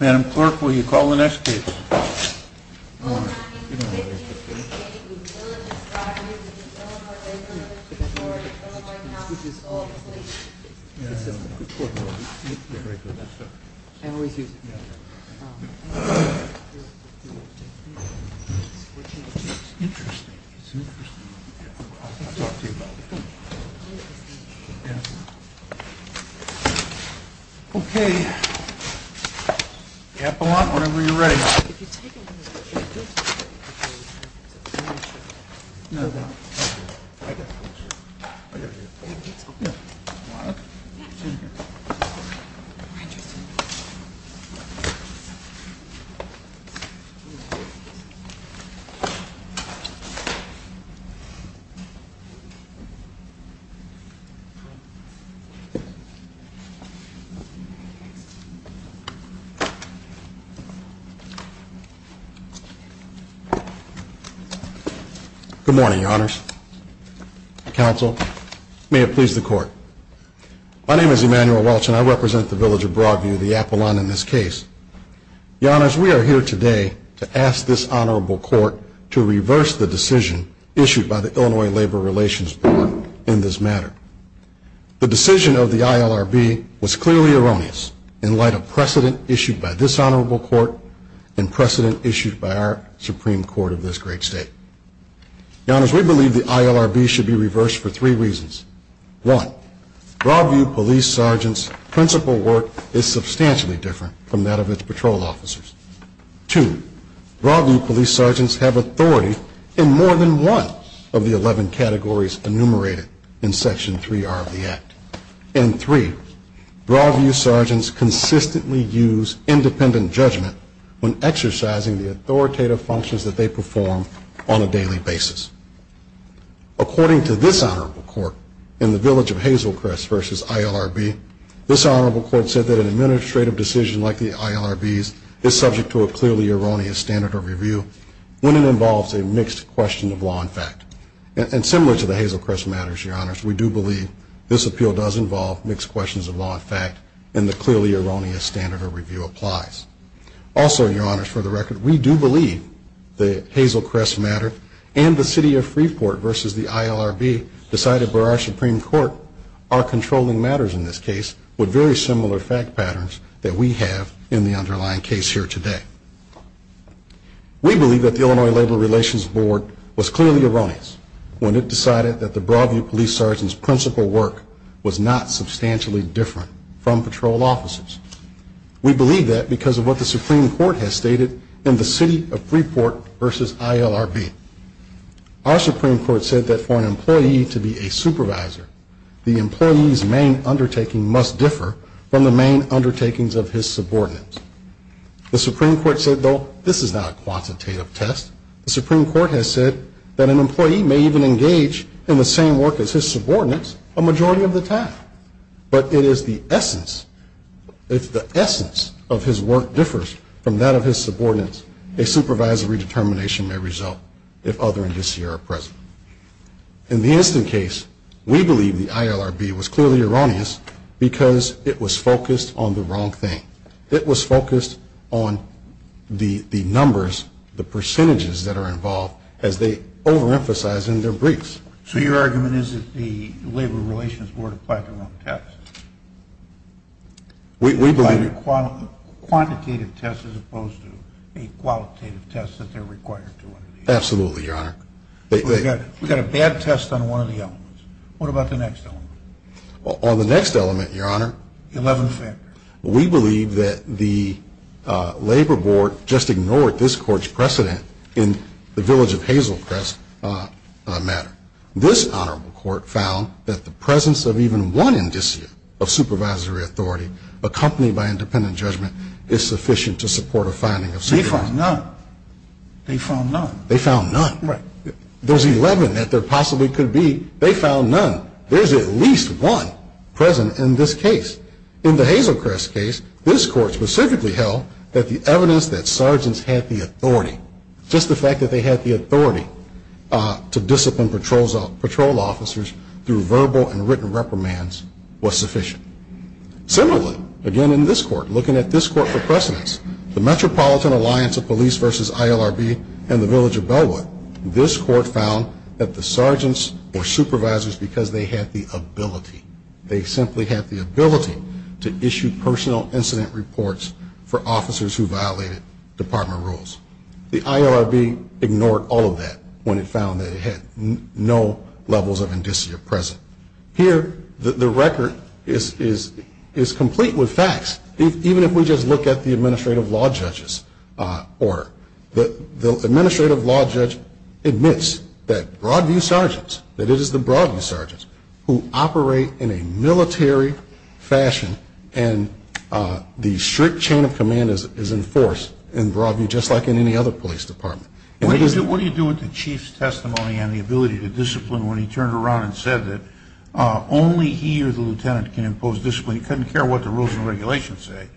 Madam Clerk, will you call the next case? Okay, Apollon, whenever you're ready. Thank you. Thank you. Thank you. Good morning, Your Honors. Counsel, may it please the Court. My name is Emmanuel Welch and I represent the Village of Broadview, the Apollon in this case. Your Honors, we are here today to ask this Honorable Court to reverse the decision issued by the Illinois Labor Relations Board in this matter. The decision of the ILRB was clearly erroneous in light of precedent issued by this Honorable Court and precedent issued by our Supreme Court of this great state. Your Honors, we believe the ILRB should be reversed for three reasons. One, Broadview Police Sergeant's principal work is substantially different from that of its patrol officers. Two, Broadview Police Sergeants have authority in more than one of the 11 categories enumerated in Section 3R of the Act. And three, Broadview Sergeants consistently use independent judgment when exercising the authoritative functions that they perform on a daily basis. According to this Honorable Court in the Village of Hazelcrest v. ILRB, this Honorable Court said that an administrative decision like the ILRB's is subject to a clearly erroneous standard of review when it involves a mixed question of law and fact. And similar to the Hazelcrest matters, Your Honors, we do believe this appeal does involve mixed questions of law and fact and the clearly erroneous standard of review applies. Also, Your Honors, for the record, we do believe the Hazelcrest matter and the City of Freeport v. the ILRB decided by our Supreme Court are controlling matters in this case with very similar fact patterns that we have in the underlying case here today. We believe that the Illinois Labor Relations Board was clearly erroneous when it decided that the Broadview Police Sergeant's principal work was not substantially different from patrol officers. We believe that because of what the Supreme Court has stated in the City of Freeport v. ILRB. Our Supreme Court said that for an employee to be a supervisor, the employee's main undertaking must differ from the main undertakings of his subordinates. The Supreme Court said, though, this is not a quantitative test. The Supreme Court has said that an employee may even engage in the same work as his subordinates a majority of the time. But it is the essence, if the essence of his work differs from that of his subordinates, a supervisory determination may result if other indices are present. In the instant case, we believe the ILRB was clearly erroneous because it was focused on the wrong thing. It was focused on the numbers, the percentages that are involved, as they overemphasize in their briefs. So your argument is that the Labor Relations Board applied the wrong test? We believe- Applied a quantitative test as opposed to a qualitative test that they're required to. Absolutely, Your Honor. We've got a bad test on one of the elements. What about the next element? On the next element, Your Honor- Eleven factors. We believe that the Labor Board just ignored this Court's precedent in the Village of Hazelcrest matter. This Honorable Court found that the presence of even one indicia of supervisory authority accompanied by independent judgment is sufficient to support a finding of supervisory authority. They found none. They found none. They found none. Right. There's 11 that there possibly could be. They found none. There's at least one present in this case. In the Hazelcrest case, this Court specifically held that the evidence that sergeants had the authority, just the fact that they had the authority to discipline patrol officers through verbal and written reprimands was sufficient. Similarly, again in this Court, looking at this Court for precedence, the Metropolitan Alliance of Police v. ILRB and the Village of Bellwood, this Court found that the sergeants were supervisors because they had the ability. They simply had the ability to issue personal incident reports for officers who violated department rules. The ILRB ignored all of that when it found that it had no levels of indicia present. Here, the record is complete with facts, even if we just look at the administrative law judges. The administrative law judge admits that Broadview sergeants, that it is the Broadview sergeants who operate in a military fashion and the strict chain of command is enforced in Broadview just like in any other police department. What do you do with the chief's testimony on the ability to discipline when he turned around and said that only he or the lieutenant can impose discipline? He couldn't care what the rules and regulations say.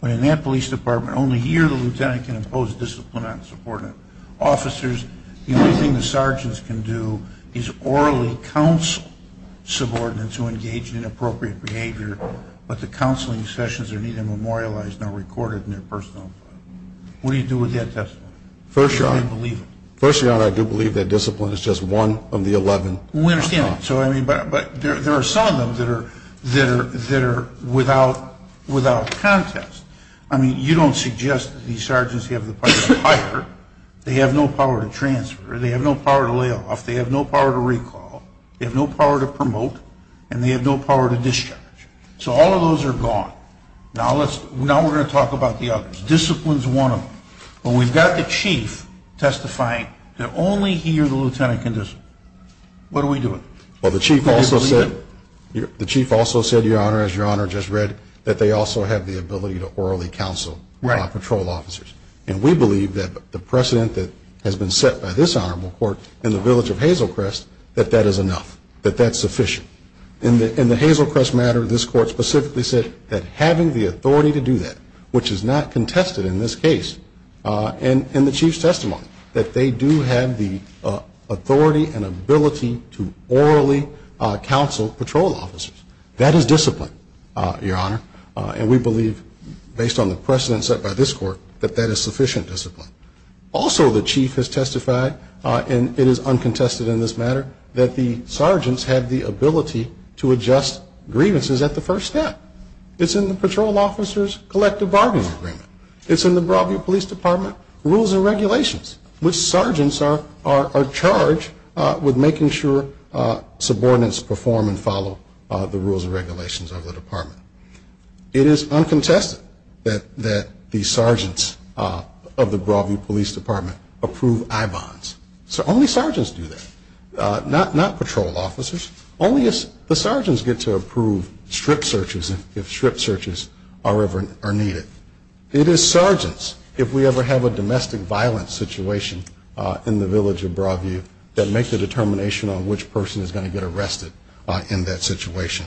But in that police department, only he or the lieutenant can impose discipline on a subordinate. Officers, the only thing the sergeants can do is orally counsel subordinates who engage in inappropriate behavior, but the counseling sessions are neither memorialized nor recorded in their personal files. What do you do with that testimony? First Your Honor, I do believe that discipline is just one of the 11. We understand that. But there are some of them that are without contest. I mean, you don't suggest that these sergeants have the power to fire. They have no power to transfer. They have no power to lay off. They have no power to recall. They have no power to promote. And they have no power to discharge. So all of those are gone. Now we're going to talk about the others. Discipline is one of them. But we've got the chief testifying that only he or the lieutenant can discipline. What are we doing? Well, the chief also said, Your Honor, as Your Honor just read, that they also have the ability to orally counsel patrol officers. And we believe that the precedent that has been set by this honorable court in the village of Hazelcrest, that that is enough, that that's sufficient. In the Hazelcrest matter, this court specifically said that having the authority to do that, which is not contested in this case in the chief's testimony, that they do have the authority and ability to orally counsel patrol officers. That is discipline, Your Honor. And we believe, based on the precedent set by this court, that that is sufficient discipline. Also, the chief has testified, and it is uncontested in this matter, that the sergeants have the ability to adjust grievances at the first step. It's in the patrol officer's collective bargaining agreement. It's in the Broadview Police Department rules and regulations, which sergeants are charged with making sure subordinates perform and follow the rules and regulations of the department. It is uncontested that the sergeants of the Broadview Police Department approve I-bonds. So only sergeants do that, not patrol officers. Only the sergeants get to approve strip searches if strip searches are needed. It is sergeants, if we ever have a domestic violence situation in the village of Broadview, that make the determination on which person is going to get arrested in that situation.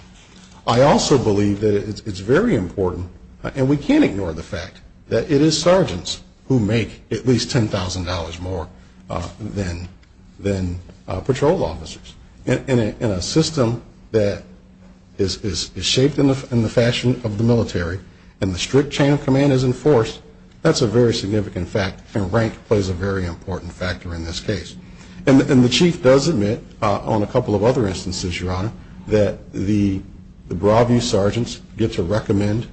I also believe that it's very important, and we can't ignore the fact, that it is sergeants who make at least $10,000 more than patrol officers. In a system that is shaped in the fashion of the military, and the strict chain of command is enforced, that's a very significant fact, and rank plays a very important factor in this case. And the chief does admit on a couple of other instances, Your Honor, that the Broadview sergeants get to recommend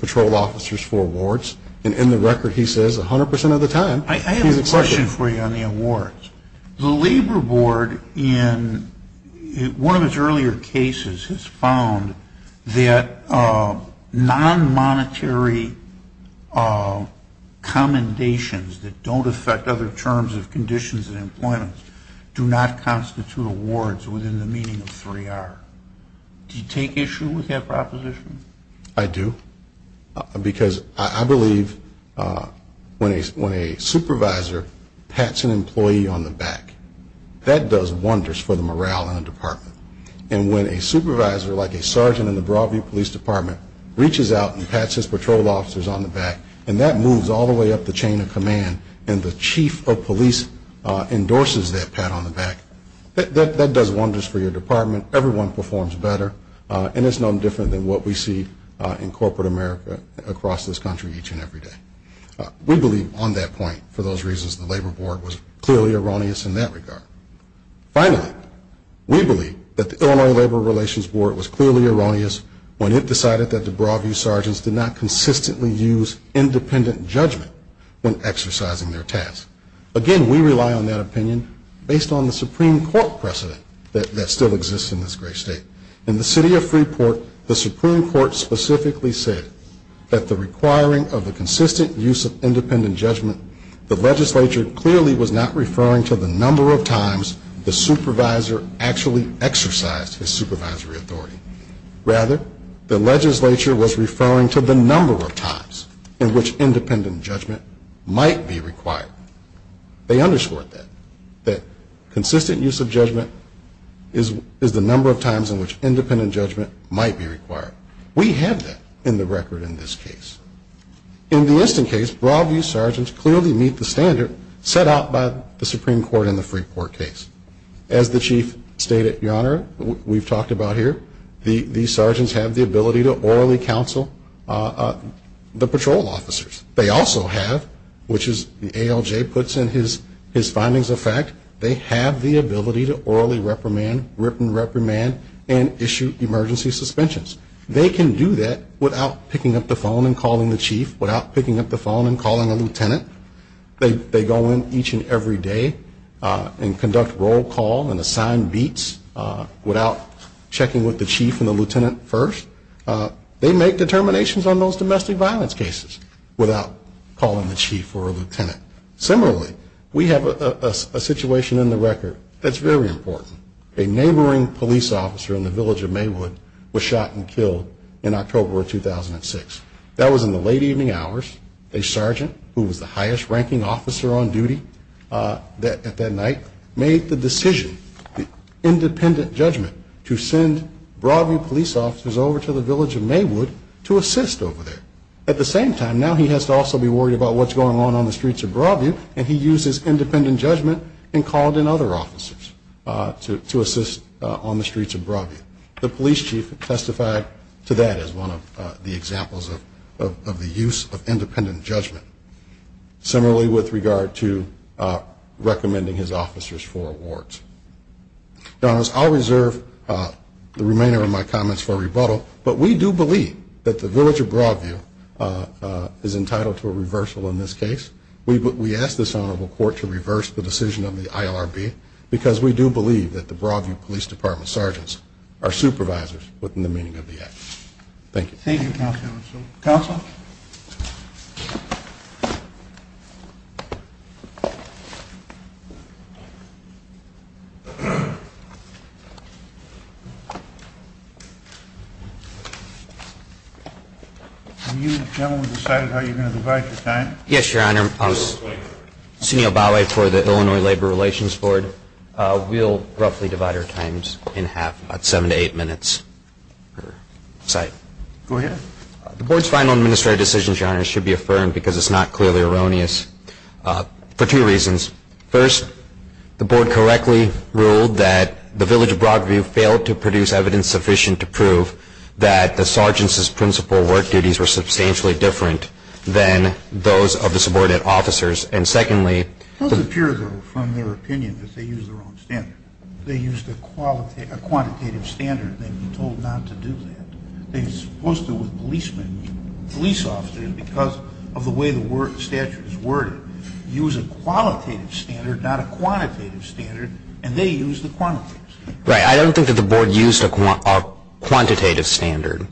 patrol officers for awards, and in the record he says 100 percent of the time he's accepted. I have a question for you on the awards. The Labor Board, in one of its earlier cases, has found that non-monetary commendations that don't affect other terms of conditions and employment do not constitute awards within the meaning of 3R. Do you take issue with that proposition? I do. Because I believe when a supervisor pats an employee on the back, that does wonders for the morale in a department. And when a supervisor, like a sergeant in the Broadview Police Department, reaches out and pats his patrol officers on the back, and that moves all the way up the chain of command, and the chief of police endorses that pat on the back, that does wonders for your department. Everyone performs better, and it's no different than what we see in corporate America across this country each and every day. We believe on that point, for those reasons, the Labor Board was clearly erroneous in that regard. Finally, we believe that the Illinois Labor Relations Board was clearly erroneous when it decided that the Broadview sergeants did not consistently use independent judgment when exercising their tasks. Again, we rely on that opinion based on the Supreme Court precedent that still exists in this great state. In the city of Freeport, the Supreme Court specifically said that the requiring of the consistent use of independent judgment, the legislature clearly was not referring to the number of times the supervisor actually exercised his supervisory authority. Rather, the legislature was referring to the number of times in which independent judgment might be required. They underscored that. That consistent use of judgment is the number of times in which independent judgment might be required. We have that in the record in this case. In the instant case, Broadview sergeants clearly meet the standard set out by the Supreme Court in the Freeport case. As the chief stated, Your Honor, we've talked about here, these sergeants have the ability to orally counsel the patrol officers. They also have, which is the ALJ puts in his findings of fact, they have the ability to orally reprimand, rip and reprimand, and issue emergency suspensions. They can do that without picking up the phone and calling the chief, without picking up the phone and calling a lieutenant. They go in each and every day and conduct roll call and assign beats without checking with the chief and the lieutenant first. They make determinations on those domestic violence cases without calling the chief or a lieutenant. Similarly, we have a situation in the record that's very important. A neighboring police officer in the village of Maywood was shot and killed in October of 2006. That was in the late evening hours. A sergeant, who was the highest ranking officer on duty at that night, made the decision, the independent judgment, to send Broadview police officers over to the village of Maywood to assist over there. At the same time, now he has to also be worried about what's going on on the streets of Broadview, and he used his independent judgment and called in other officers to assist on the streets of Broadview. The police chief testified to that as one of the examples of the use of independent judgment. Similarly, with regard to recommending his officers for awards. Your Honor, I'll reserve the remainder of my comments for rebuttal, but we do believe that the village of Broadview is entitled to a reversal in this case. We ask this honorable court to reverse the decision of the ILRB because we do believe that the Broadview Police Department sergeants are supervisors within the meaning of the act. Thank you. Thank you, Counsel. Counsel? Have you, gentlemen, decided how you're going to divide your time? Yes, Your Honor. I'm Sunil Bhawe for the Illinois Labor Relations Board. We'll roughly divide our times in half, about seven to eight minutes per site. Go ahead. The board's final administrative decisions, Your Honor, should be affirmed because it's not clearly erroneous for two reasons. First, the board correctly, in its final administrative decisions, ruled that the village of Broadview failed to produce evidence sufficient to prove that the sergeants' principal work duties were substantially different than those of the subordinate officers. And secondly, It doesn't appear, though, from their opinion that they used the wrong standard. They used a quantitative standard, and they've been told not to do that. They're supposed to, with policemen, police officers, because of the way the statute is worded, use a qualitative standard, not a quantitative standard, and they use the quantitative standard. Right. I don't think that the board used a quantitative standard.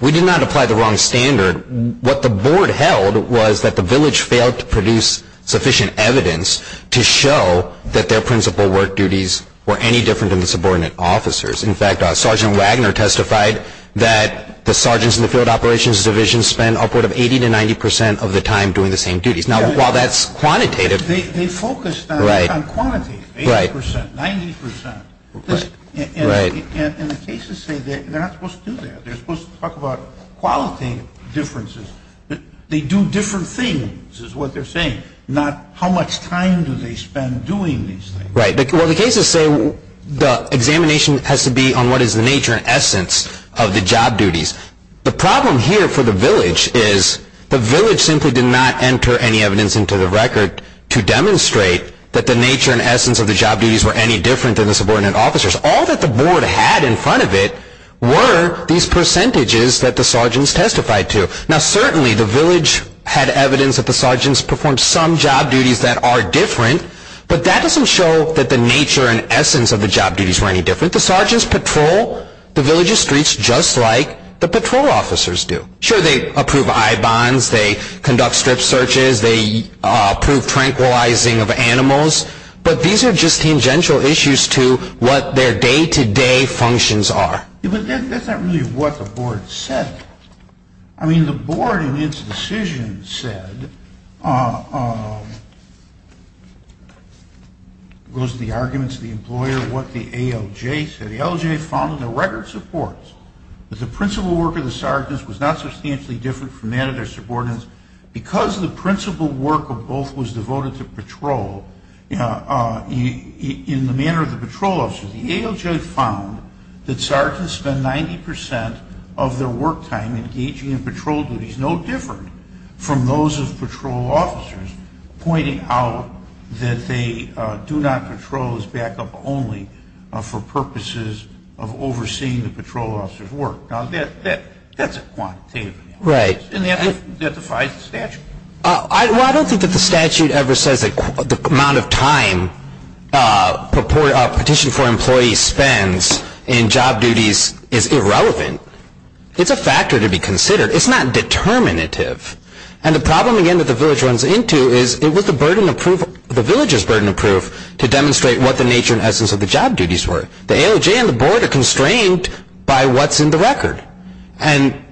We did not apply the wrong standard. What the board held was that the village failed to produce sufficient evidence to show that their principal work duties were any different than the subordinate officers. In fact, Sergeant Wagner testified that the sergeants in the field operations division spend upward of 80 to 90 percent of the time doing the same duties. Now, while that's quantitative... They focused on quantity, 80 percent, 90 percent. Right. And the cases say they're not supposed to do that. They're supposed to talk about qualitative differences. They do different things, is what they're saying, not how much time do they spend doing these things. Right. Well, the cases say the examination has to be on what is the nature and essence of the job duties. The problem here for the village is the village simply did not enter any evidence into the record to demonstrate that the nature and essence of the job duties were any different than the subordinate officers. All that the board had in front of it were these percentages that the sergeants testified to. Now, certainly the village had evidence that the sergeants performed some job duties that are different, but that doesn't show that the nature and essence of the job duties were any different. The sergeants patrol the village's streets just like the patrol officers do. Sure, they approve I-bonds. They conduct strip searches. They approve tranquilizing of animals. But these are just tangential issues to what their day-to-day functions are. But that's not really what the board said. I mean, the board in its decision said, goes to the arguments of the employer, what the ALJ said. The ALJ found in the record supports that the principal work of the sergeants was not substantially different from that of their subordinates because the principal work of both was devoted to patrol in the manner of the patrol officers. The ALJ found that sergeants spend 90 percent of their work time engaging in patrol duties, no different from those of patrol officers, pointing out that they do not patrol as backup only for purposes of overseeing the patrol officers' work. Now, that's a quantitative analysis. Right. And that defies the statute. Well, I don't think that the statute ever says that the amount of time a petition for employees spends in job duties is irrelevant. It's a factor to be considered. It's not determinative. And the problem, again, that the village runs into is, it was the village's burden of proof to demonstrate what the nature and essence of the job duties were. The ALJ and the board are constrained by what's in the record. Right. And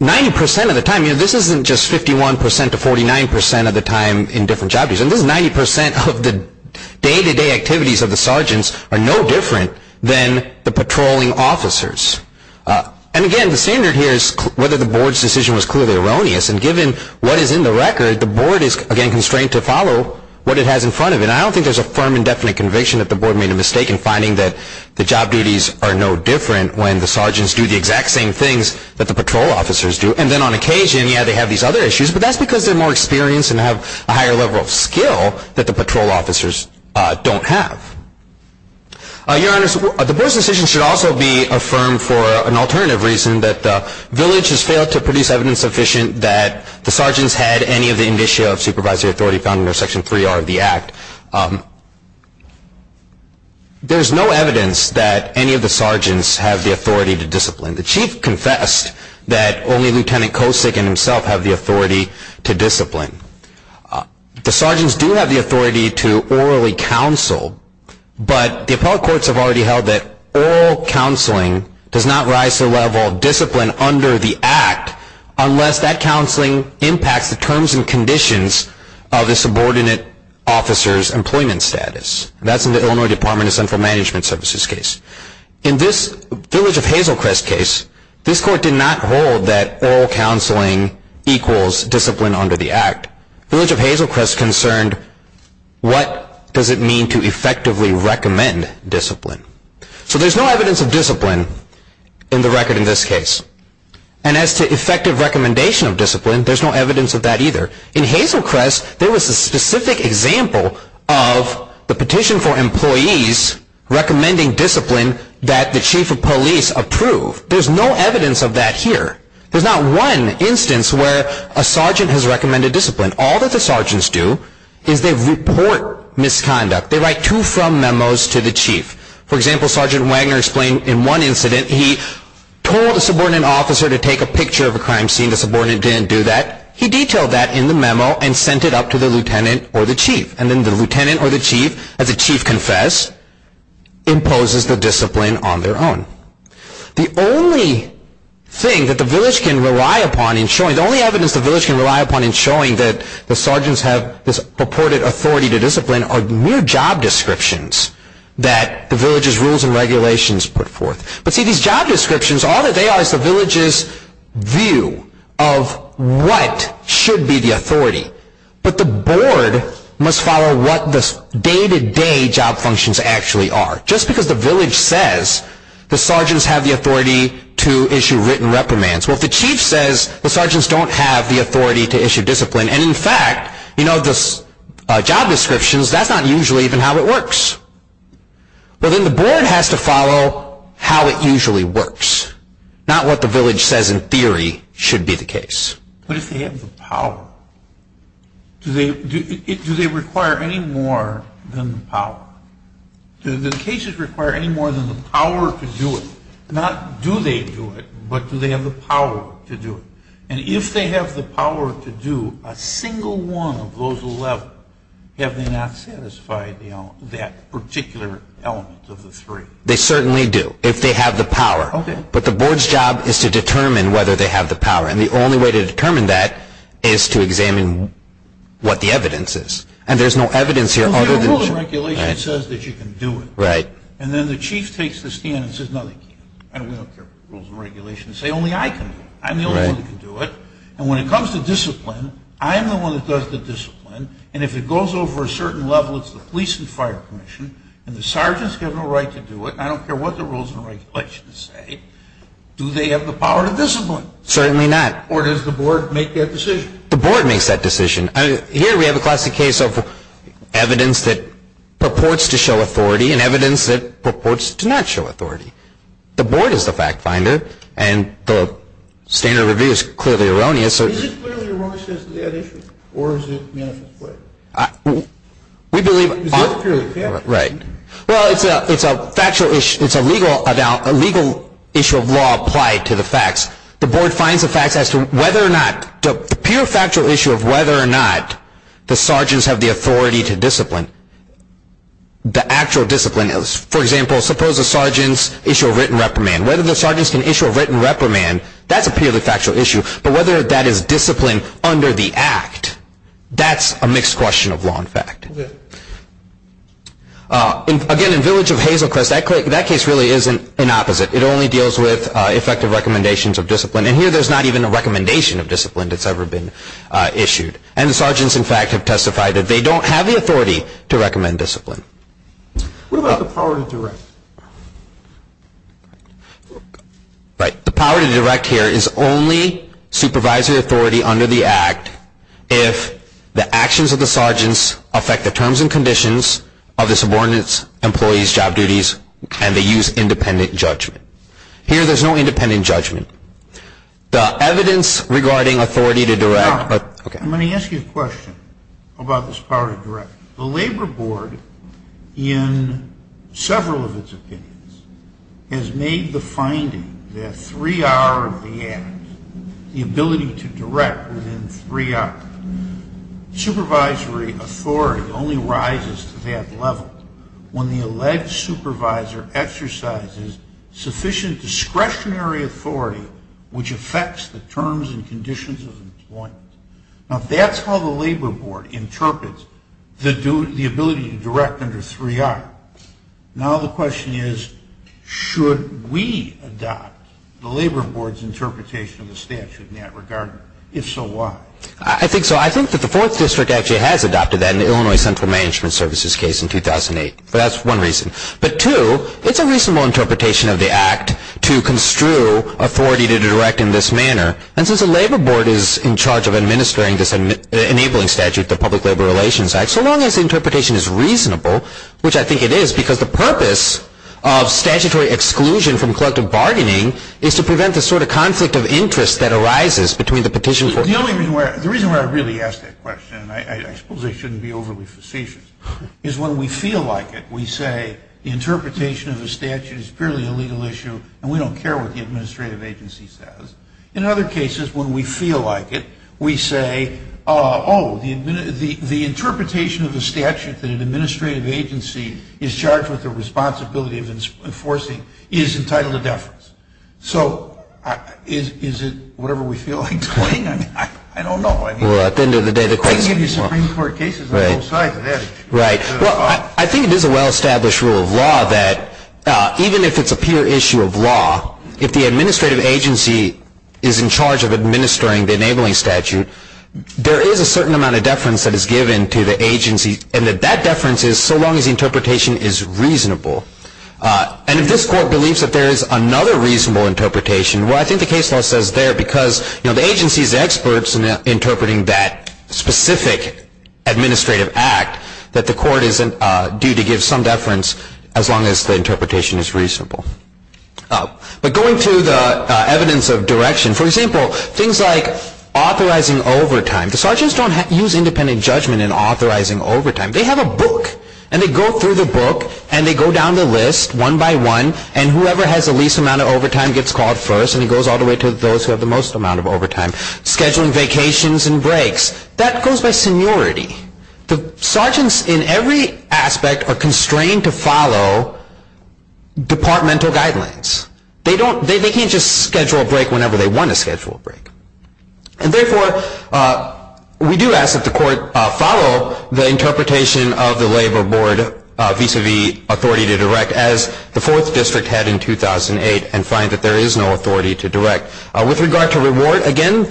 90 percent of the time, you know, this isn't just 51 percent to 49 percent of the time in different job duties. And this is 90 percent of the day-to-day activities of the sergeants are no different than the patrolling officers. And, again, the standard here is whether the board's decision was clearly erroneous. And given what is in the record, the board is, again, constrained to follow what it has in front of it. And I don't think there's a firm and definite conviction that the board made a mistake in finding that the job duties are no different when the sergeants do the exact same things that the patrol officers do. And then on occasion, yeah, they have these other issues, but that's because they're more experienced and have a higher level of skill that the patrol officers don't have. Your Honor, the board's decision should also be affirmed for an alternative reason, that the village has failed to produce evidence sufficient that the sergeants had any of the authority found under Section 3R of the Act. There's no evidence that any of the sergeants have the authority to discipline. The Chief confessed that only Lieutenant Kosick and himself have the authority to discipline. The sergeants do have the authority to orally counsel, but the appellate courts have already held that oral counseling does not rise to the level of discipline under the Act unless that counseling impacts the terms and conditions of the subordinate officer's employment status. That's in the Illinois Department of Central Management Services case. In this Village of Hazelcrest case, this court did not hold that oral counseling equals discipline under the Act. Village of Hazelcrest concerned, what does it mean to effectively recommend discipline? So there's no evidence of discipline in the record in this case. And as to effective recommendation of discipline, there's no evidence of that either. In Hazelcrest, there was a specific example of the petition for employees recommending discipline that the Chief of Police approved. There's no evidence of that here. There's not one instance where a sergeant has recommended discipline. All that the sergeants do is they report misconduct. They write to-from memos to the Chief. For example, Sergeant Wagner explained in one incident he told a subordinate officer to take a picture of a crime scene. The subordinate didn't do that. He detailed that in the memo and sent it up to the lieutenant or the chief. And then the lieutenant or the chief, as the chief confessed, imposes the discipline on their own. The only thing that the village can rely upon in showing-the only evidence the village can rely upon in showing that the sergeants have this purported authority to discipline are mere job descriptions that the village's rules and regulations put forth. But see, these job descriptions, all that they are is the village's view of what should be the authority. But the board must follow what the day-to-day job functions actually are. Just because the village says the sergeants have the authority to issue written reprimands. Well, if the chief says the sergeants don't have the authority to issue discipline, and in fact, you know, the job descriptions, that's not usually even how it works. Well, then the board has to follow how it usually works. Not what the village says in theory should be the case. But if they have the power, do they require any more than the power? Do the cases require any more than the power to do it? Not do they do it, but do they have the power to do it? And if they have the power to do a single one of those 11, have they not satisfied that particular element of the three? They certainly do, if they have the power. But the board's job is to determine whether they have the power. And the only way to determine that is to examine what the evidence is. And there's no evidence here other than the sergeants. Well, the rules and regulations says that you can do it. And then the chief takes the stand and says, no, they can't. And we don't care what the rules and regulations say. Only I can do it. I'm the only one that can do it. And when it comes to discipline, I'm the one that does the discipline. And if it goes over a certain level, it's the police and fire commission. And the sergeants have no right to do it. I don't care what the rules and regulations say. Do they have the power to discipline? Certainly not. Or does the board make that decision? The board makes that decision. Here we have a classic case of evidence that purports to show authority and evidence that purports to not show authority. The board is the fact finder. And the standard of review is clearly erroneous. Is it clearly erroneous that they had issues? Or is it manifestly? We believe. Is it purely factual? Right. Well, it's a factual issue. It's a legal issue of law applied to the facts. The board finds the facts as to whether or not, the pure factual issue of whether or not the sergeants have the authority to discipline, the actual discipline. For example, suppose the sergeants issue a written reprimand. Whether the sergeants can issue a written reprimand, that's a purely factual issue. But whether that is discipline under the act, that's a mixed question of law and fact. Again, in Village of Hazelcrest, that case really is an opposite. It only deals with effective recommendations of discipline. And here there's not even a recommendation of discipline that's ever been issued. And the sergeants, in fact, have testified that they don't have the authority to recommend discipline. What about the power to direct? Right. The power to direct here is only supervisory authority under the act if the actions of the sergeants affect the terms and conditions of the subordinates, employees, job duties, and they use independent judgment. Here there's no independent judgment. The evidence regarding authority to direct. I'm going to ask you a question about this power to direct. The Labor Board, in several of its opinions, has made the finding that 3R of the act, the ability to direct within 3R, supervisory authority only rises to that level when the alleged supervisor exercises sufficient discretionary authority which affects the terms and conditions of employment. Now if that's how the Labor Board interprets the ability to direct under 3R, now the question is should we adopt the Labor Board's interpretation of the statute in that regard? If so, why? I think so. I think that the Fourth District actually has adopted that in the Illinois Central Management Services case in 2008. That's one reason. But two, it's a reasonable interpretation of the act to construe authority to direct in this manner. And since the Labor Board is in charge of administering this enabling statute, the Public Labor Relations Act, so long as the interpretation is reasonable, which I think it is, because the purpose of statutory exclusion from collective bargaining is to prevent the sort of conflict of interest that arises between the petitioners. The reason why I really ask that question, and I suppose I shouldn't be overly facetious, is when we feel like it, we say the interpretation of the statute is purely a legal issue and we don't care what the administrative agency says. In other cases, when we feel like it, we say, oh, the interpretation of the statute that an administrative agency is charged with the responsibility of enforcing is entitled to deference. So is it whatever we feel like doing? I don't know. Well, at the end of the day, the court can give you Supreme Court cases on both sides of that issue. Right. Well, I think it is a well-established rule of law that even if it's a pure issue of law, if the administrative agency is in charge of administering the enabling statute, there is a certain amount of deference that is given to the agency, and that that deference is so long as the interpretation is reasonable. And if this court believes that there is another reasonable interpretation, well, I think the case law says there, because, you know, the agency is the experts in interpreting that specific administrative act, that the court is due to give some deference as long as the interpretation is reasonable. But going through the evidence of direction, for example, things like authorizing overtime. The sergeants don't use independent judgment in authorizing overtime. They have a book, and they go through the book, and they go down the list one by one, and whoever has the least amount of overtime gets called first, and it goes all the way to those who have the most amount of overtime. Scheduling vacations and breaks, that goes by seniority. The sergeants, in every aspect, are constrained to follow departmental guidelines. They can't just schedule a break whenever they want to schedule a break. And therefore, we do ask that the court follow the interpretation of the Labor Board vis-à-vis authority to direct, as the 4th District had in 2008, With regard to reward, again,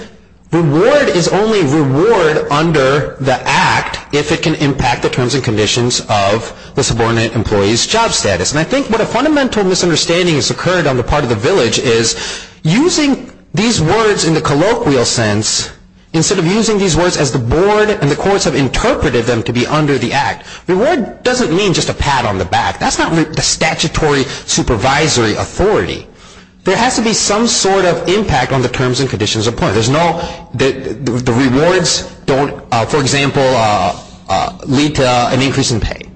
reward is only reward under the act if it can impact the terms and conditions of the subordinate employee's job status. And I think what a fundamental misunderstanding has occurred on the part of the village is using these words in the colloquial sense, instead of using these words as the board and the courts have interpreted them to be under the act. Reward doesn't mean just a pat on the back. That's not the statutory supervisory authority. There has to be some sort of impact on the terms and conditions of employment. The rewards don't, for example, lead to an increase in pay.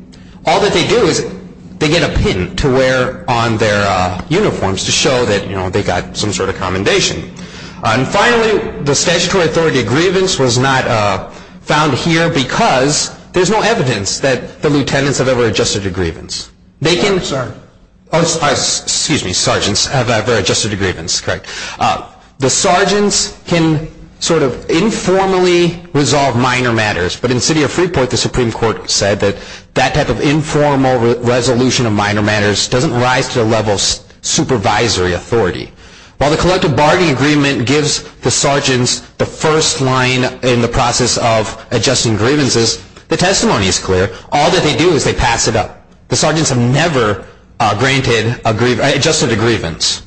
All that they do is they get a pin to wear on their uniforms to show that they got some sort of commendation. And finally, the statutory authority of grievance was not found here because there's no evidence that the lieutenants have ever adjusted to grievance. Excuse me, sergeants have ever adjusted to grievance, correct. The sergeants can sort of informally resolve minor matters, but in the city of Freeport the Supreme Court said that that type of informal resolution of minor matters doesn't rise to the level of supervisory authority. While the collective bargaining agreement gives the sergeants the first line in the process of adjusting grievances, the testimony is clear. All that they do is they pass it up. The sergeants have never adjusted to grievance.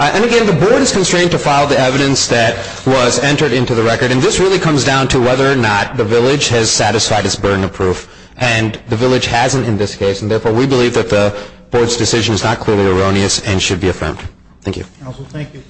And again, the board is constrained to file the evidence that was entered into the record, and this really comes down to whether or not the village has satisfied its burden of proof, and the village hasn't in this case, and therefore we believe that the board's decision is not clearly erroneous and should be affirmed. Thank you. Counsel, thank you.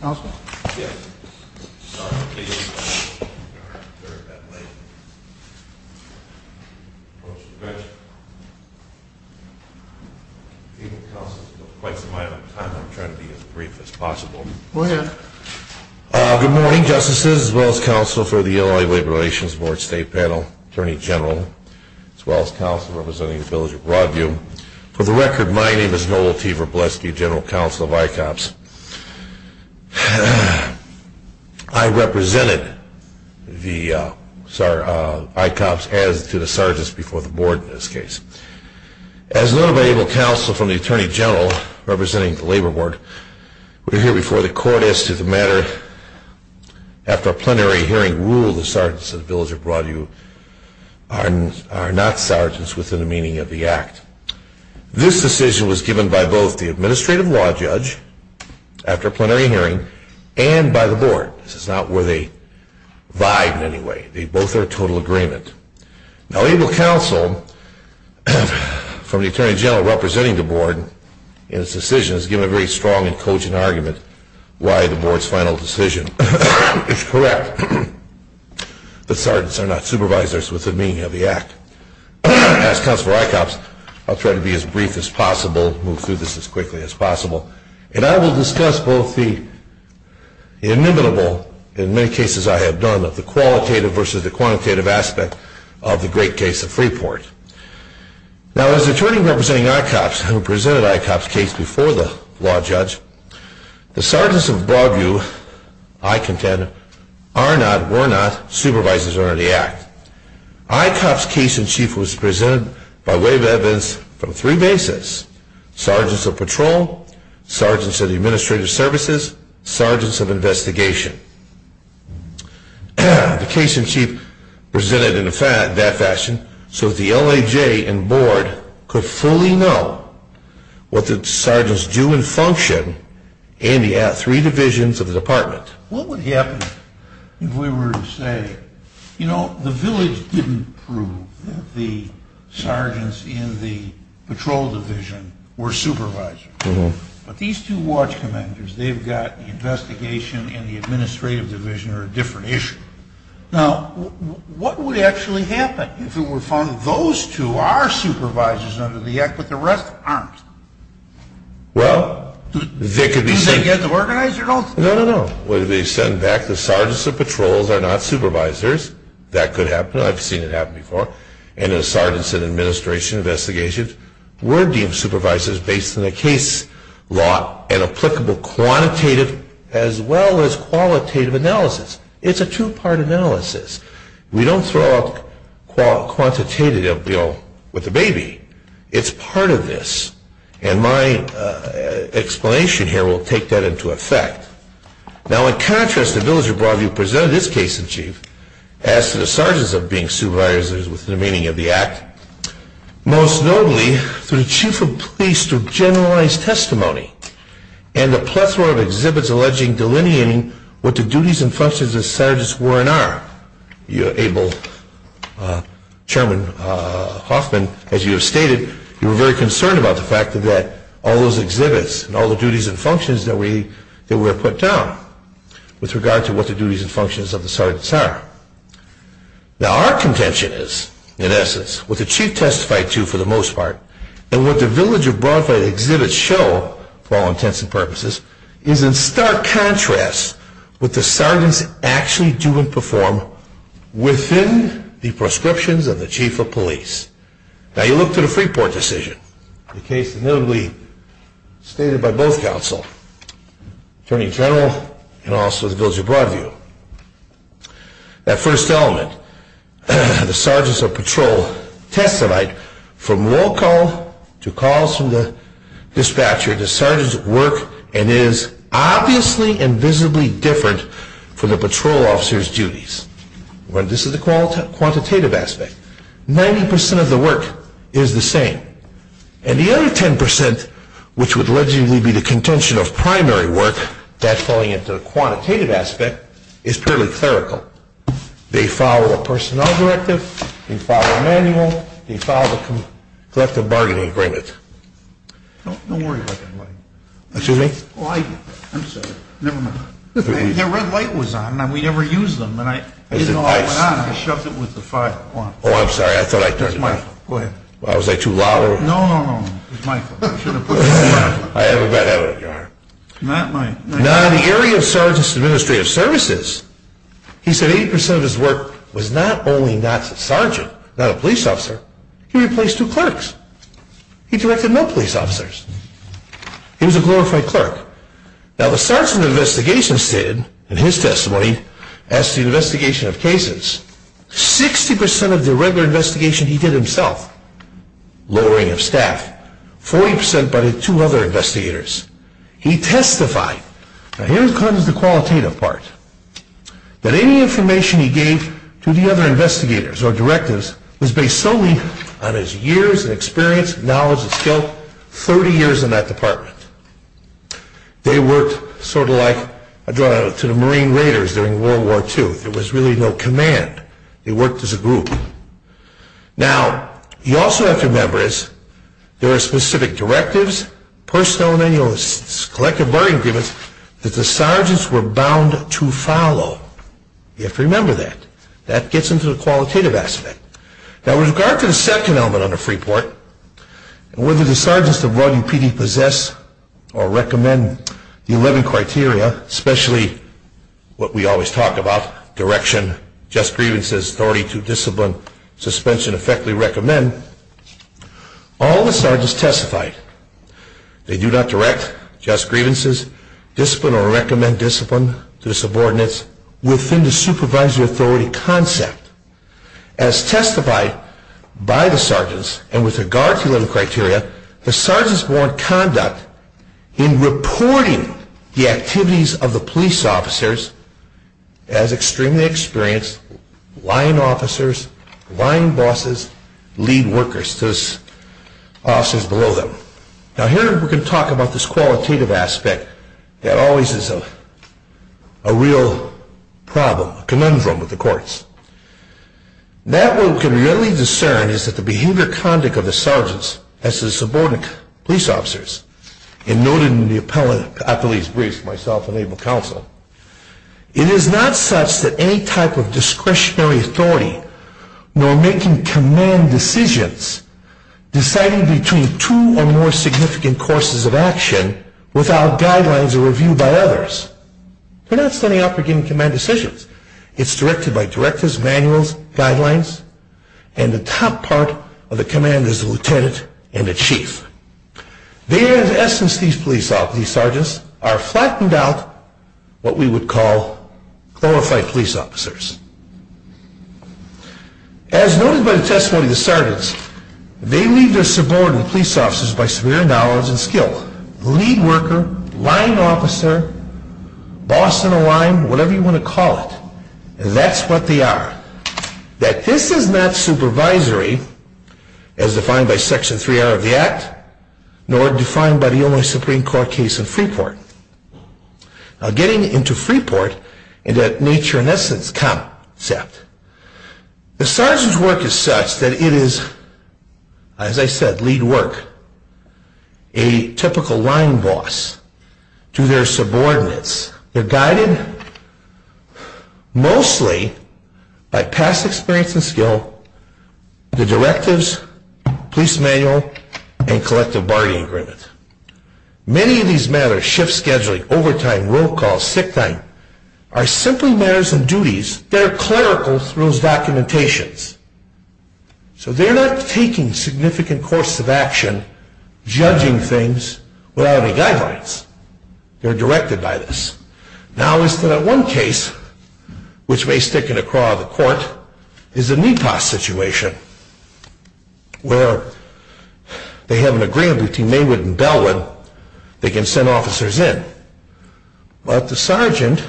Good morning, Justices, as well as Counsel for the Illinois Labor Relations Board State Panel, Attorney General, as well as Counsel representing the village of Broadview. For the record, my name is Noel T. Verbleski, General Counsel of ICOPS. I represented the ICOPS as to the sergeants before the board in this case. As an unavailable counsel from the Attorney General representing the labor board, we're here before the court as to the matter after a plenary hearing ruled the sergeants of the village of Broadview are not sergeants within the meaning of the act. This decision was given by both the administrative law judge after a plenary hearing and by the board. This is not where they vied in any way. They both are in total agreement. Now, able counsel from the Attorney General representing the board in its decision has given a very strong and cogent argument why the board's final decision is correct. The sergeants are not supervisors within the meaning of the act. As Counsel for ICOPS, I'll try to be as brief as possible, move through this as quickly as possible, and I will discuss both the inimitable, in many cases I have done, of the qualitative versus the quantitative aspect of the great case of Freeport. Now, as Attorney representing ICOPS who presented ICOPS case before the law judge, the sergeants of Broadview, I contend, are not, were not supervisors under the act. ICOPS case in chief was presented by way of evidence from three bases, sergeants of patrol, sergeants of the administrative services, sergeants of investigation. The case in chief presented in that fashion so that the LAJ and board could fully know what the sergeants do and function in the three divisions of the department. What would happen if we were to say, you know, the village didn't prove that the sergeants in the patrol division were supervisors, but these two watch commanders, they've got the investigation and the administrative division are a different issue. Now, what would actually happen if it were found that those two are supervisors under the act, but the rest aren't? Well, they could be sent... Do they get to organize it all? No, no, no. What if they send back the sergeants of patrols are not supervisors? That could happen. I've seen it happen before. And the sergeants in administration investigations were deemed supervisors based on the case law and applicable quantitative as well as qualitative analysis. It's a two-part analysis. We don't throw out quantitative, you know, with the baby. It's part of this. And my explanation here will take that into effect. Now, in contrast, the village of Broadview presented its case in chief as to the sergeants of being supervisors within the meaning of the act, most notably through chief of police through generalized testimony and a plethora of exhibits alleging delineating what the duties and functions of sergeants were and are. Abel, Chairman Hoffman, as you have stated, you were very concerned about the fact that all those exhibits and all the duties and functions that were put down with regard to what the duties and functions of the sergeants are. Now, our contention is, in essence, what the chief testified to for the most part, and what the village of Broadview exhibits show, for all intents and purposes, is in stark contrast with the sergeants actually do and perform within the proscriptions of the chief of police. Now, you look to the Freeport decision, the case notably stated by both counsel, Attorney General and also the village of Broadview. That first element, the sergeants of patrol testified from roll call to calls from the dispatcher, that the sergeants work and is obviously and visibly different from the patrol officers' duties. This is the quantitative aspect. Ninety percent of the work is the same. And the other ten percent, which would allegedly be the contention of primary work, that's falling into the quantitative aspect, is purely clerical. They follow a personnel directive. They follow a manual. They follow the collective bargaining agreement. Don't worry about that, buddy. Excuse me? Oh, I get that. I'm sorry. Never mind. That red light was on, and we never used them, and I didn't know how it went on. I shoved it with the five on. Oh, I'm sorry. I thought I turned it off. Go ahead. Was I too loud? No, no, no. It was my fault. I should have put it on. I have a bad habit of jarring. Not my fault. Now, in the area of sergeants' administrative services, he said 80 percent of his work was not only not sergeant, not a police officer. He replaced two clerks. He directed no police officers. He was a glorified clerk. Now, the sergeant of investigation stated in his testimony, as to the investigation of cases, 60 percent of the regular investigation he did himself, lowering of staff, 40 percent by the two other investigators. He testified, and here comes the qualitative part, that any information he gave to the other investigators or directives was based solely on his years of experience, knowledge, and skill, 30 years in that department. They worked sort of like I draw to the Marine Raiders during World War II. There was really no command. They worked as a group. Now, you also have to remember this. There are specific directives, personnel manuals, collective bargaining agreements, that the sergeants were bound to follow. You have to remember that. That gets into the qualitative aspect. Now, with regard to the second element under Freeport, whether the sergeants of RUPD possess or recommend the 11 criteria, especially what we always talk about, direction, just grievances, authority to discipline, suspension, effectively recommend, all the sergeants testified. They do not direct just grievances, discipline or recommend discipline to the subordinates within the supervisory authority concept. As testified by the sergeants and with regard to the 11 criteria, the sergeants were in conduct in reporting the activities of the police officers as extremely experienced line officers, line bosses, lead workers to the officers below them. Now, here we can talk about this qualitative aspect that always is a real problem, a conundrum with the courts. That we can really discern is that the behavior conduct of the sergeants as the subordinate police officers, and noted in the appellate briefs myself and Abel Counsel, it is not such that any type of discretionary authority nor making command decisions deciding between two or more significant courses of action without guidelines or review by others. They're not standing up for giving command decisions. It's directed by directors, manuals, guidelines, and the top part of the command is the lieutenant and the chief. There, in essence, these police sergeants are flattened out, what we would call, qualified police officers. As noted by the testimony of the sergeants, they leave their subordinate police officers by severe knowledge and skill, lead worker, line officer, boss in a line, whatever you want to call it. That's what they are. That this is not supervisory as defined by Section 3R of the Act nor defined by the Illinois Supreme Court case in Freeport. Now getting into Freeport and that nature in essence concept, the sergeant's work is such that it is, as I said, lead work, a typical line boss to their subordinates. They're guided mostly by past experience and skill, the directives, police manual, and collective bargaining agreement. Many of these matters, shift scheduling, overtime, roll call, sick time, are simply matters and duties that are clerical through those documentations. So they're not taking significant course of action, judging things without any guidelines. They're directed by this. Now as to that one case, which may stick in the craw of the court, is the NEPA situation where they have an agreement between Maywood and Bellwood. They can send officers in. But the sergeant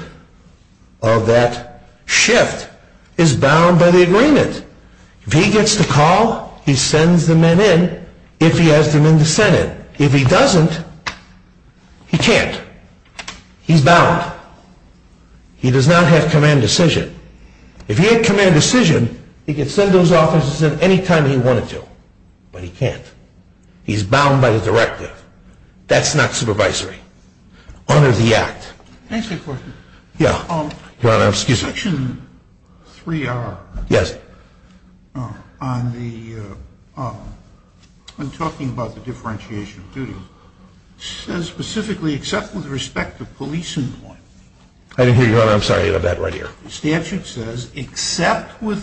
of that shift is bound by the agreement. If he gets the call, he sends the men in if he has the men to send in. If he doesn't, he can't. He's bound. He does not have command decision. If he had command decision, he could send those officers in any time he wanted to. But he can't. He's bound by the directive. That's not supervisory. Honor the act. Thanks for your question. Yeah. Your Honor, excuse me. Section 3R. Yes. On the, when talking about the differentiation of duty, says specifically except with respect to police employment. I didn't hear you, Your Honor. I'm sorry. I didn't have that right here. The statute says except with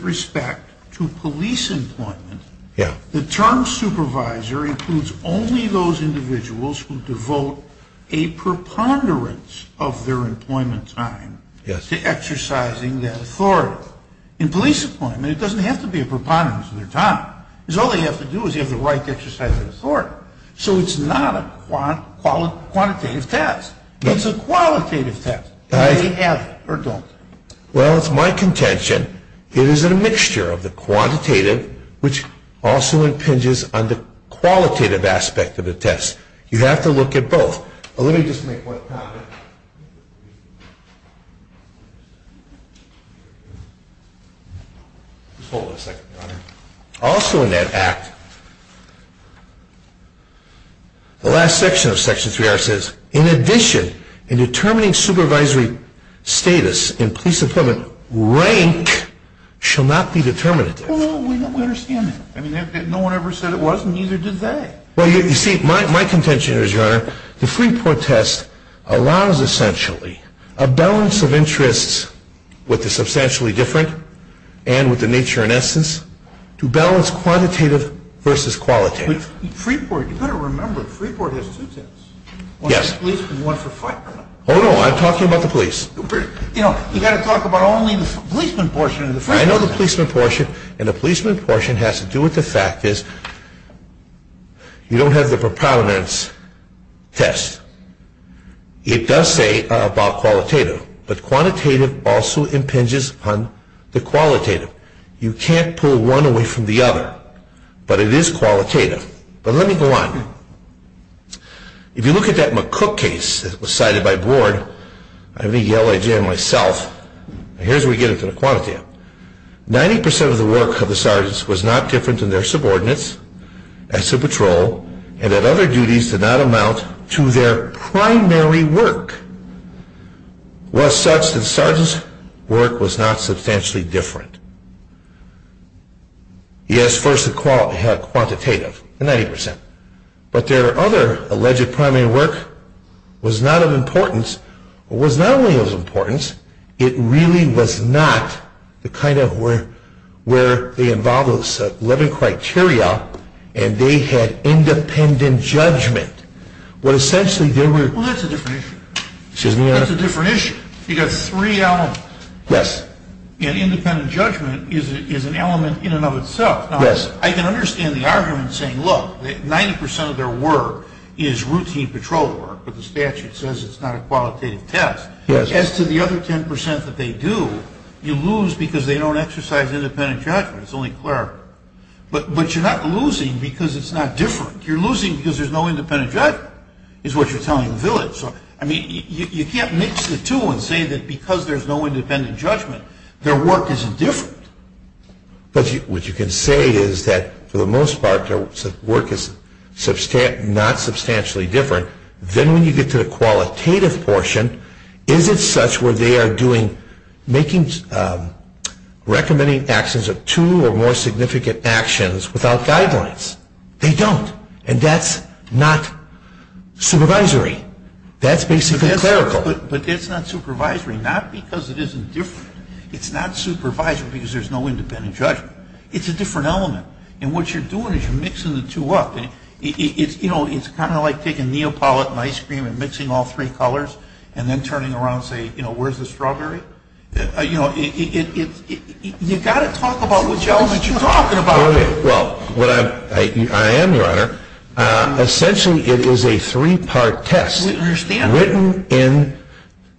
respect to police employment. Yeah. The term supervisor includes only those individuals who devote a preponderance of their employment time. Yes. To exercising that authority. In police employment, it doesn't have to be a preponderance of their time. Because all they have to do is they have the right to exercise that authority. So it's not a quantitative test. It's a qualitative test. Do they have it or don't they? Well, it's my contention it is a mixture of the quantitative, which also impinges on the qualitative aspect of the test. You have to look at both. Let me just make one comment. Hold on a second, Your Honor. Also in that act, the last section of Section 3R says, in addition, in determining supervisory status in police employment, rank shall not be determinative. Well, we understand that. No one ever said it was, and neither did they. Well, you see, my contention is, Your Honor, the Freeport test allows essentially a balance of interests with the substantially different and with the nature and essence to balance quantitative versus qualitative. Freeport, you better remember, Freeport has two tests. Yes. One for policemen and one for firemen. Oh, no, I'm talking about the police. You know, you've got to talk about only the policeman portion of the Freeport test. I know the policeman portion, and the policeman portion has to do with the fact is you don't have the proponents test. It does say about qualitative, but quantitative also impinges on the qualitative. You can't pull one away from the other, but it is qualitative. But let me go on. If you look at that McCook case that was cited by Board, I may yell at you and myself, but here's where we get into the quantitative. Ninety percent of the work of the sergeants was not different in their subordinates as to patrol and that other duties did not amount to their primary work, was such that the sergeant's work was not substantially different. Yes, first they had quantitative, the 90%, but their other alleged primary work was not of importance, or was not only of importance, it really was not the kind of where they involved 11 criteria and they had independent judgment. Well, that's a different issue. Excuse me, Your Honor? That's a different issue. You've got three elements. Yes. And independent judgment is an element in and of itself. Yes. I can understand the argument saying, look, 90% of their work is routine patrol work, but the statute says it's not a qualitative test. Yes. As to the other 10% that they do, you lose because they don't exercise independent judgment. It's only clear. But you're not losing because it's not different. You're losing because there's no independent judgment is what you're telling the village. You can't mix the two and say that because there's no independent judgment, their work is different. But what you can say is that, for the most part, their work is not substantially different. Then when you get to the qualitative portion, is it such where they are recommending actions of two or more significant actions without guidelines? They don't. And that's not supervisory. That's basically clerical. But it's not supervisory, not because it isn't different. It's not supervisory because there's no independent judgment. It's a different element. And what you're doing is you're mixing the two up. It's kind of like taking Neapolitan ice cream and mixing all three colors and then turning around and saying, you know, where's the strawberry? You've got to talk about which element you're talking about. Well, I am, Your Honor. Essentially, it is a three-part test written in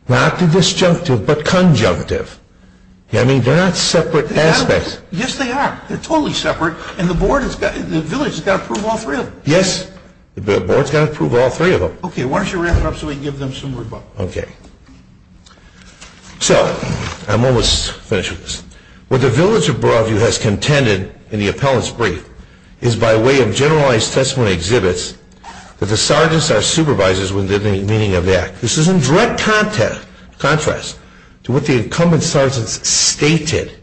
not the disjunctive but conjunctive. I mean, they're not separate aspects. Yes, they are. They're totally separate. And the village has got to approve all three of them. Yes. The board has got to approve all three of them. Okay. Why don't you wrap it up so we can give them some room up? Okay. So I'm almost finished with this. What the village of Broadview has contended in the appellant's brief is by way of generalized testimony exhibits that the sergeants are supervisors within the meaning of the act. This is in direct contrast to what the incumbent sergeants stated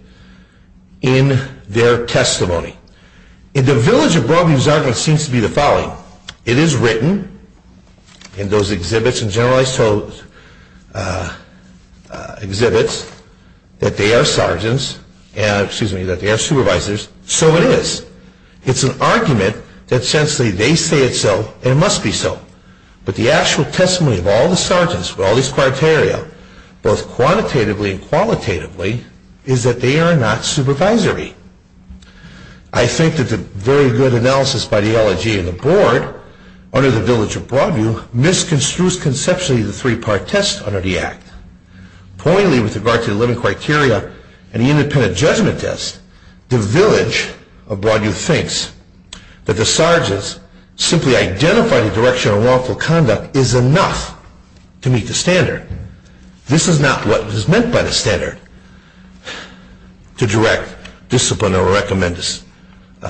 in their testimony. In the village of Broadview's argument seems to be the following. It is written in those exhibits and generalized exhibits that they are sergeants and, excuse me, that they are supervisors. So it is. It's an argument that essentially they say it's so and it must be so. But the actual testimony of all the sergeants with all these criteria, both quantitatively and qualitatively, is that they are not supervisory. I think that the very good analysis by the LOG and the board under the village of Broadview misconstrues conceptually the three-part test under the act. Pointly with regard to the living criteria and the independent judgment test, the village of Broadview thinks that the sergeants simply identify the direction of lawful conduct is enough to meet the standard. This is not what is meant by the standard to direct, discipline, or recommend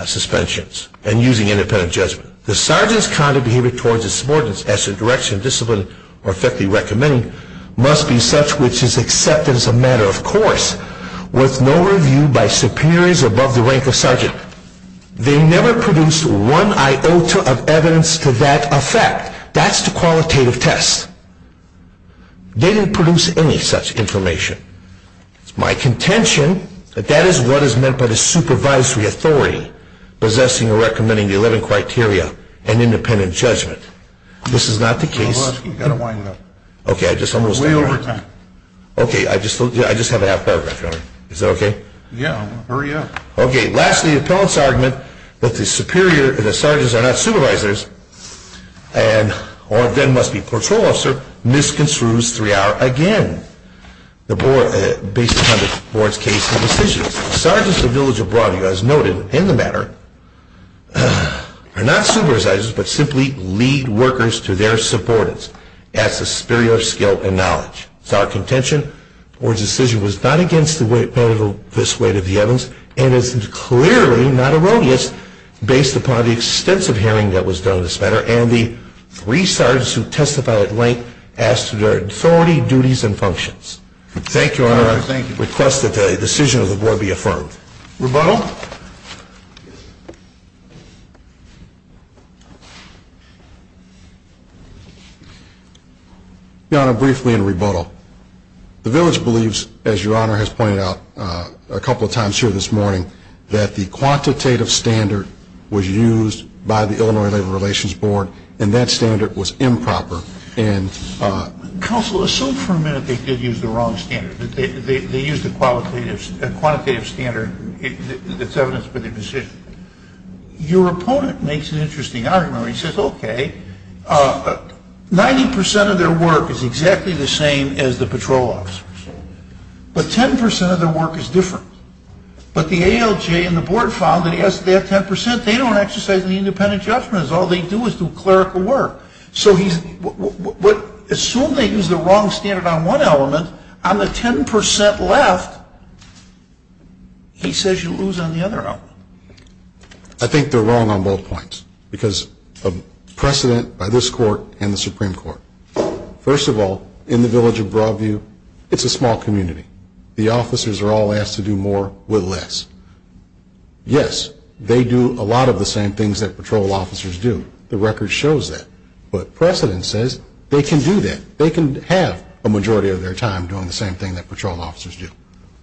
suspensions and using independent judgment. The sergeant's conduct behavior towards his subordinates as to the direction, discipline, or effectively recommending must be such which is accepted as a matter of course with no review by superiors above the rank of sergeant. They never produced one iota of evidence to that effect. That's the qualitative test. They didn't produce any such information. It's my contention that that is what is meant by the supervisory authority possessing or recommending the 11 criteria and independent judgment. This is not the case. Hold on. You've got to wind up. Okay. I just almost got there. Way over time. Okay. I just have a half paragraph. Is that okay? Yeah. Hurry up. Okay. Lastly, the appellant's argument that the superior and the sergeants are not supervisors or then must be patrol officer misconstrues 3R again based upon the board's case and decisions. The sergeants of the village of Broadview, as noted in the matter, are not supervisors but simply lead workers to their subordinates. That's the superior skill and knowledge. It's our contention the board's decision was not against this weight of the evidence and is clearly not erroneous based upon the extensive hearing that was done in this matter and the three sergeants who testified at length as to their authority, duties, and functions. Thank you, Your Honor. I request that the decision of the board be affirmed. Rebuttal. Your Honor, briefly in rebuttal, the village believes, as Your Honor has pointed out a couple of times here this morning, that the quantitative standard was used by the Illinois Labor Relations Board and that standard was improper. Counsel, assume for a minute they did use the wrong standard, that they used a quantitative standard that's evidence for their decision. Your opponent makes an interesting argument where he says, 90 percent of their work is exactly the same as the patrol officers, but 10 percent of their work is different. But the ALJ and the board found that they have 10 percent. They don't exercise any independent judgment. All they do is do clerical work. Assume they used the wrong standard on one element. On the 10 percent left, he says you lose on the other element. I think they're wrong on both points because of precedent by this court and the Supreme Court. First of all, in the village of Broadview, it's a small community. The officers are all asked to do more with less. Yes, they do a lot of the same things that patrol officers do. The record shows that. But precedent says they can do that. They can have a majority of their time doing the same thing that patrol officers do.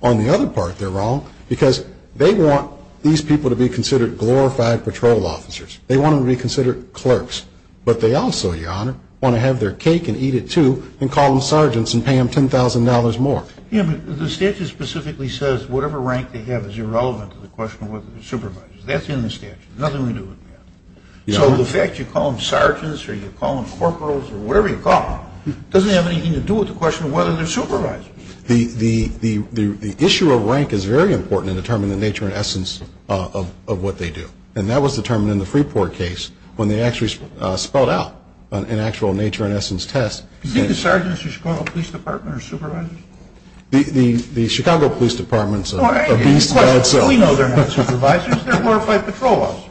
On the other part, they're wrong because they want these people to be considered glorified patrol officers. They want them to be considered clerks. But they also, Your Honor, want to have their cake and eat it too and call them sergeants and pay them $10,000 more. Yeah, but the statute specifically says whatever rank they have is irrelevant to the question of whether they're supervisors. That's in the statute. Nothing to do with that. So the fact you call them sergeants or you call them corporals or whatever you call them doesn't have anything to do with the question of whether they're supervisors. The issue of rank is very important in determining the nature and essence of what they do. And that was determined in the Freeport case when they actually spelled out an actual nature and essence test. Do you think the sergeants of the Chicago Police Department are supervisors? The Chicago Police Department's a beast in and of itself. We know they're not supervisors. They're glorified patrol officers.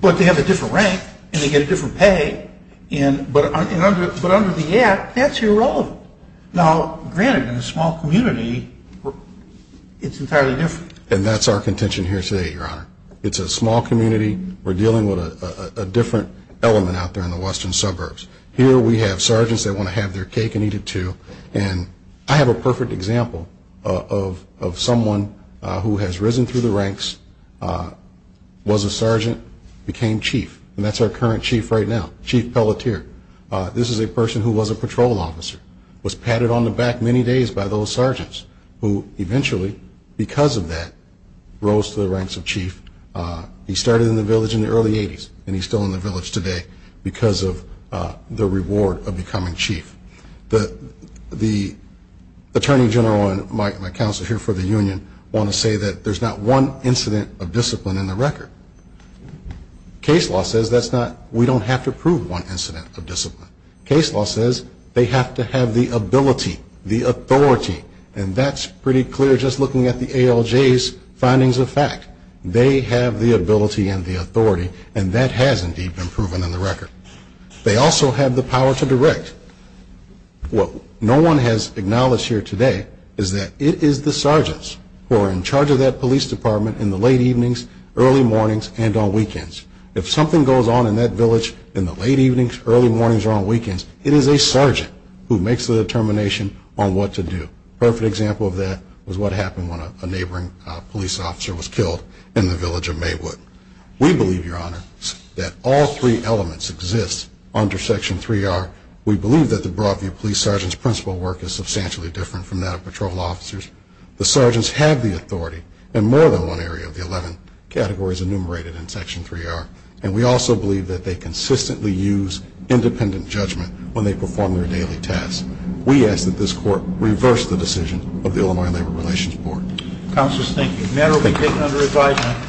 But they have a different rank and they get a different pay. But under the Act, that's irrelevant. Now, granted, in a small community, it's entirely different. And that's our contention here today, Your Honor. It's a small community. We're dealing with a different element out there in the western suburbs. Here we have sergeants that want to have their cake and eat it too. And I have a perfect example of someone who has risen through the ranks, was a sergeant, became chief. And that's our current chief right now, Chief Pelletier. This is a person who was a patrol officer, was patted on the back many days by those sergeants, who eventually, because of that, rose to the ranks of chief. He started in the village in the early 80s and he's still in the village today because of the reward of becoming chief. The Attorney General and my counsel here for the union want to say that there's not one incident of discipline in the record. Case law says we don't have to prove one incident of discipline. Case law says they have to have the ability, the authority. And that's pretty clear just looking at the ALJ's findings of fact. They have the ability and the authority, and that has indeed been proven in the record. They also have the power to direct. What no one has acknowledged here today is that it is the sergeants who are in charge of that police department in the late evenings, early mornings, and on weekends. If something goes on in that village in the late evenings, early mornings, or on weekends, it is a sergeant who makes the determination on what to do. A perfect example of that was what happened when a neighboring police officer was killed in the village of Maywood. We believe, Your Honor, that all three elements exist under Section 3R. We believe that the broad view of police sergeants' principal work is substantially different from that of patrol officers. The sergeants have the authority in more than one area of the 11 categories enumerated in Section 3R, and we also believe that they consistently use independent judgment when they perform their daily tasks. We ask that this Court reverse the decision of the Illinois Labor Relations Board. Counselors, thank you. The matter will be taken under revision.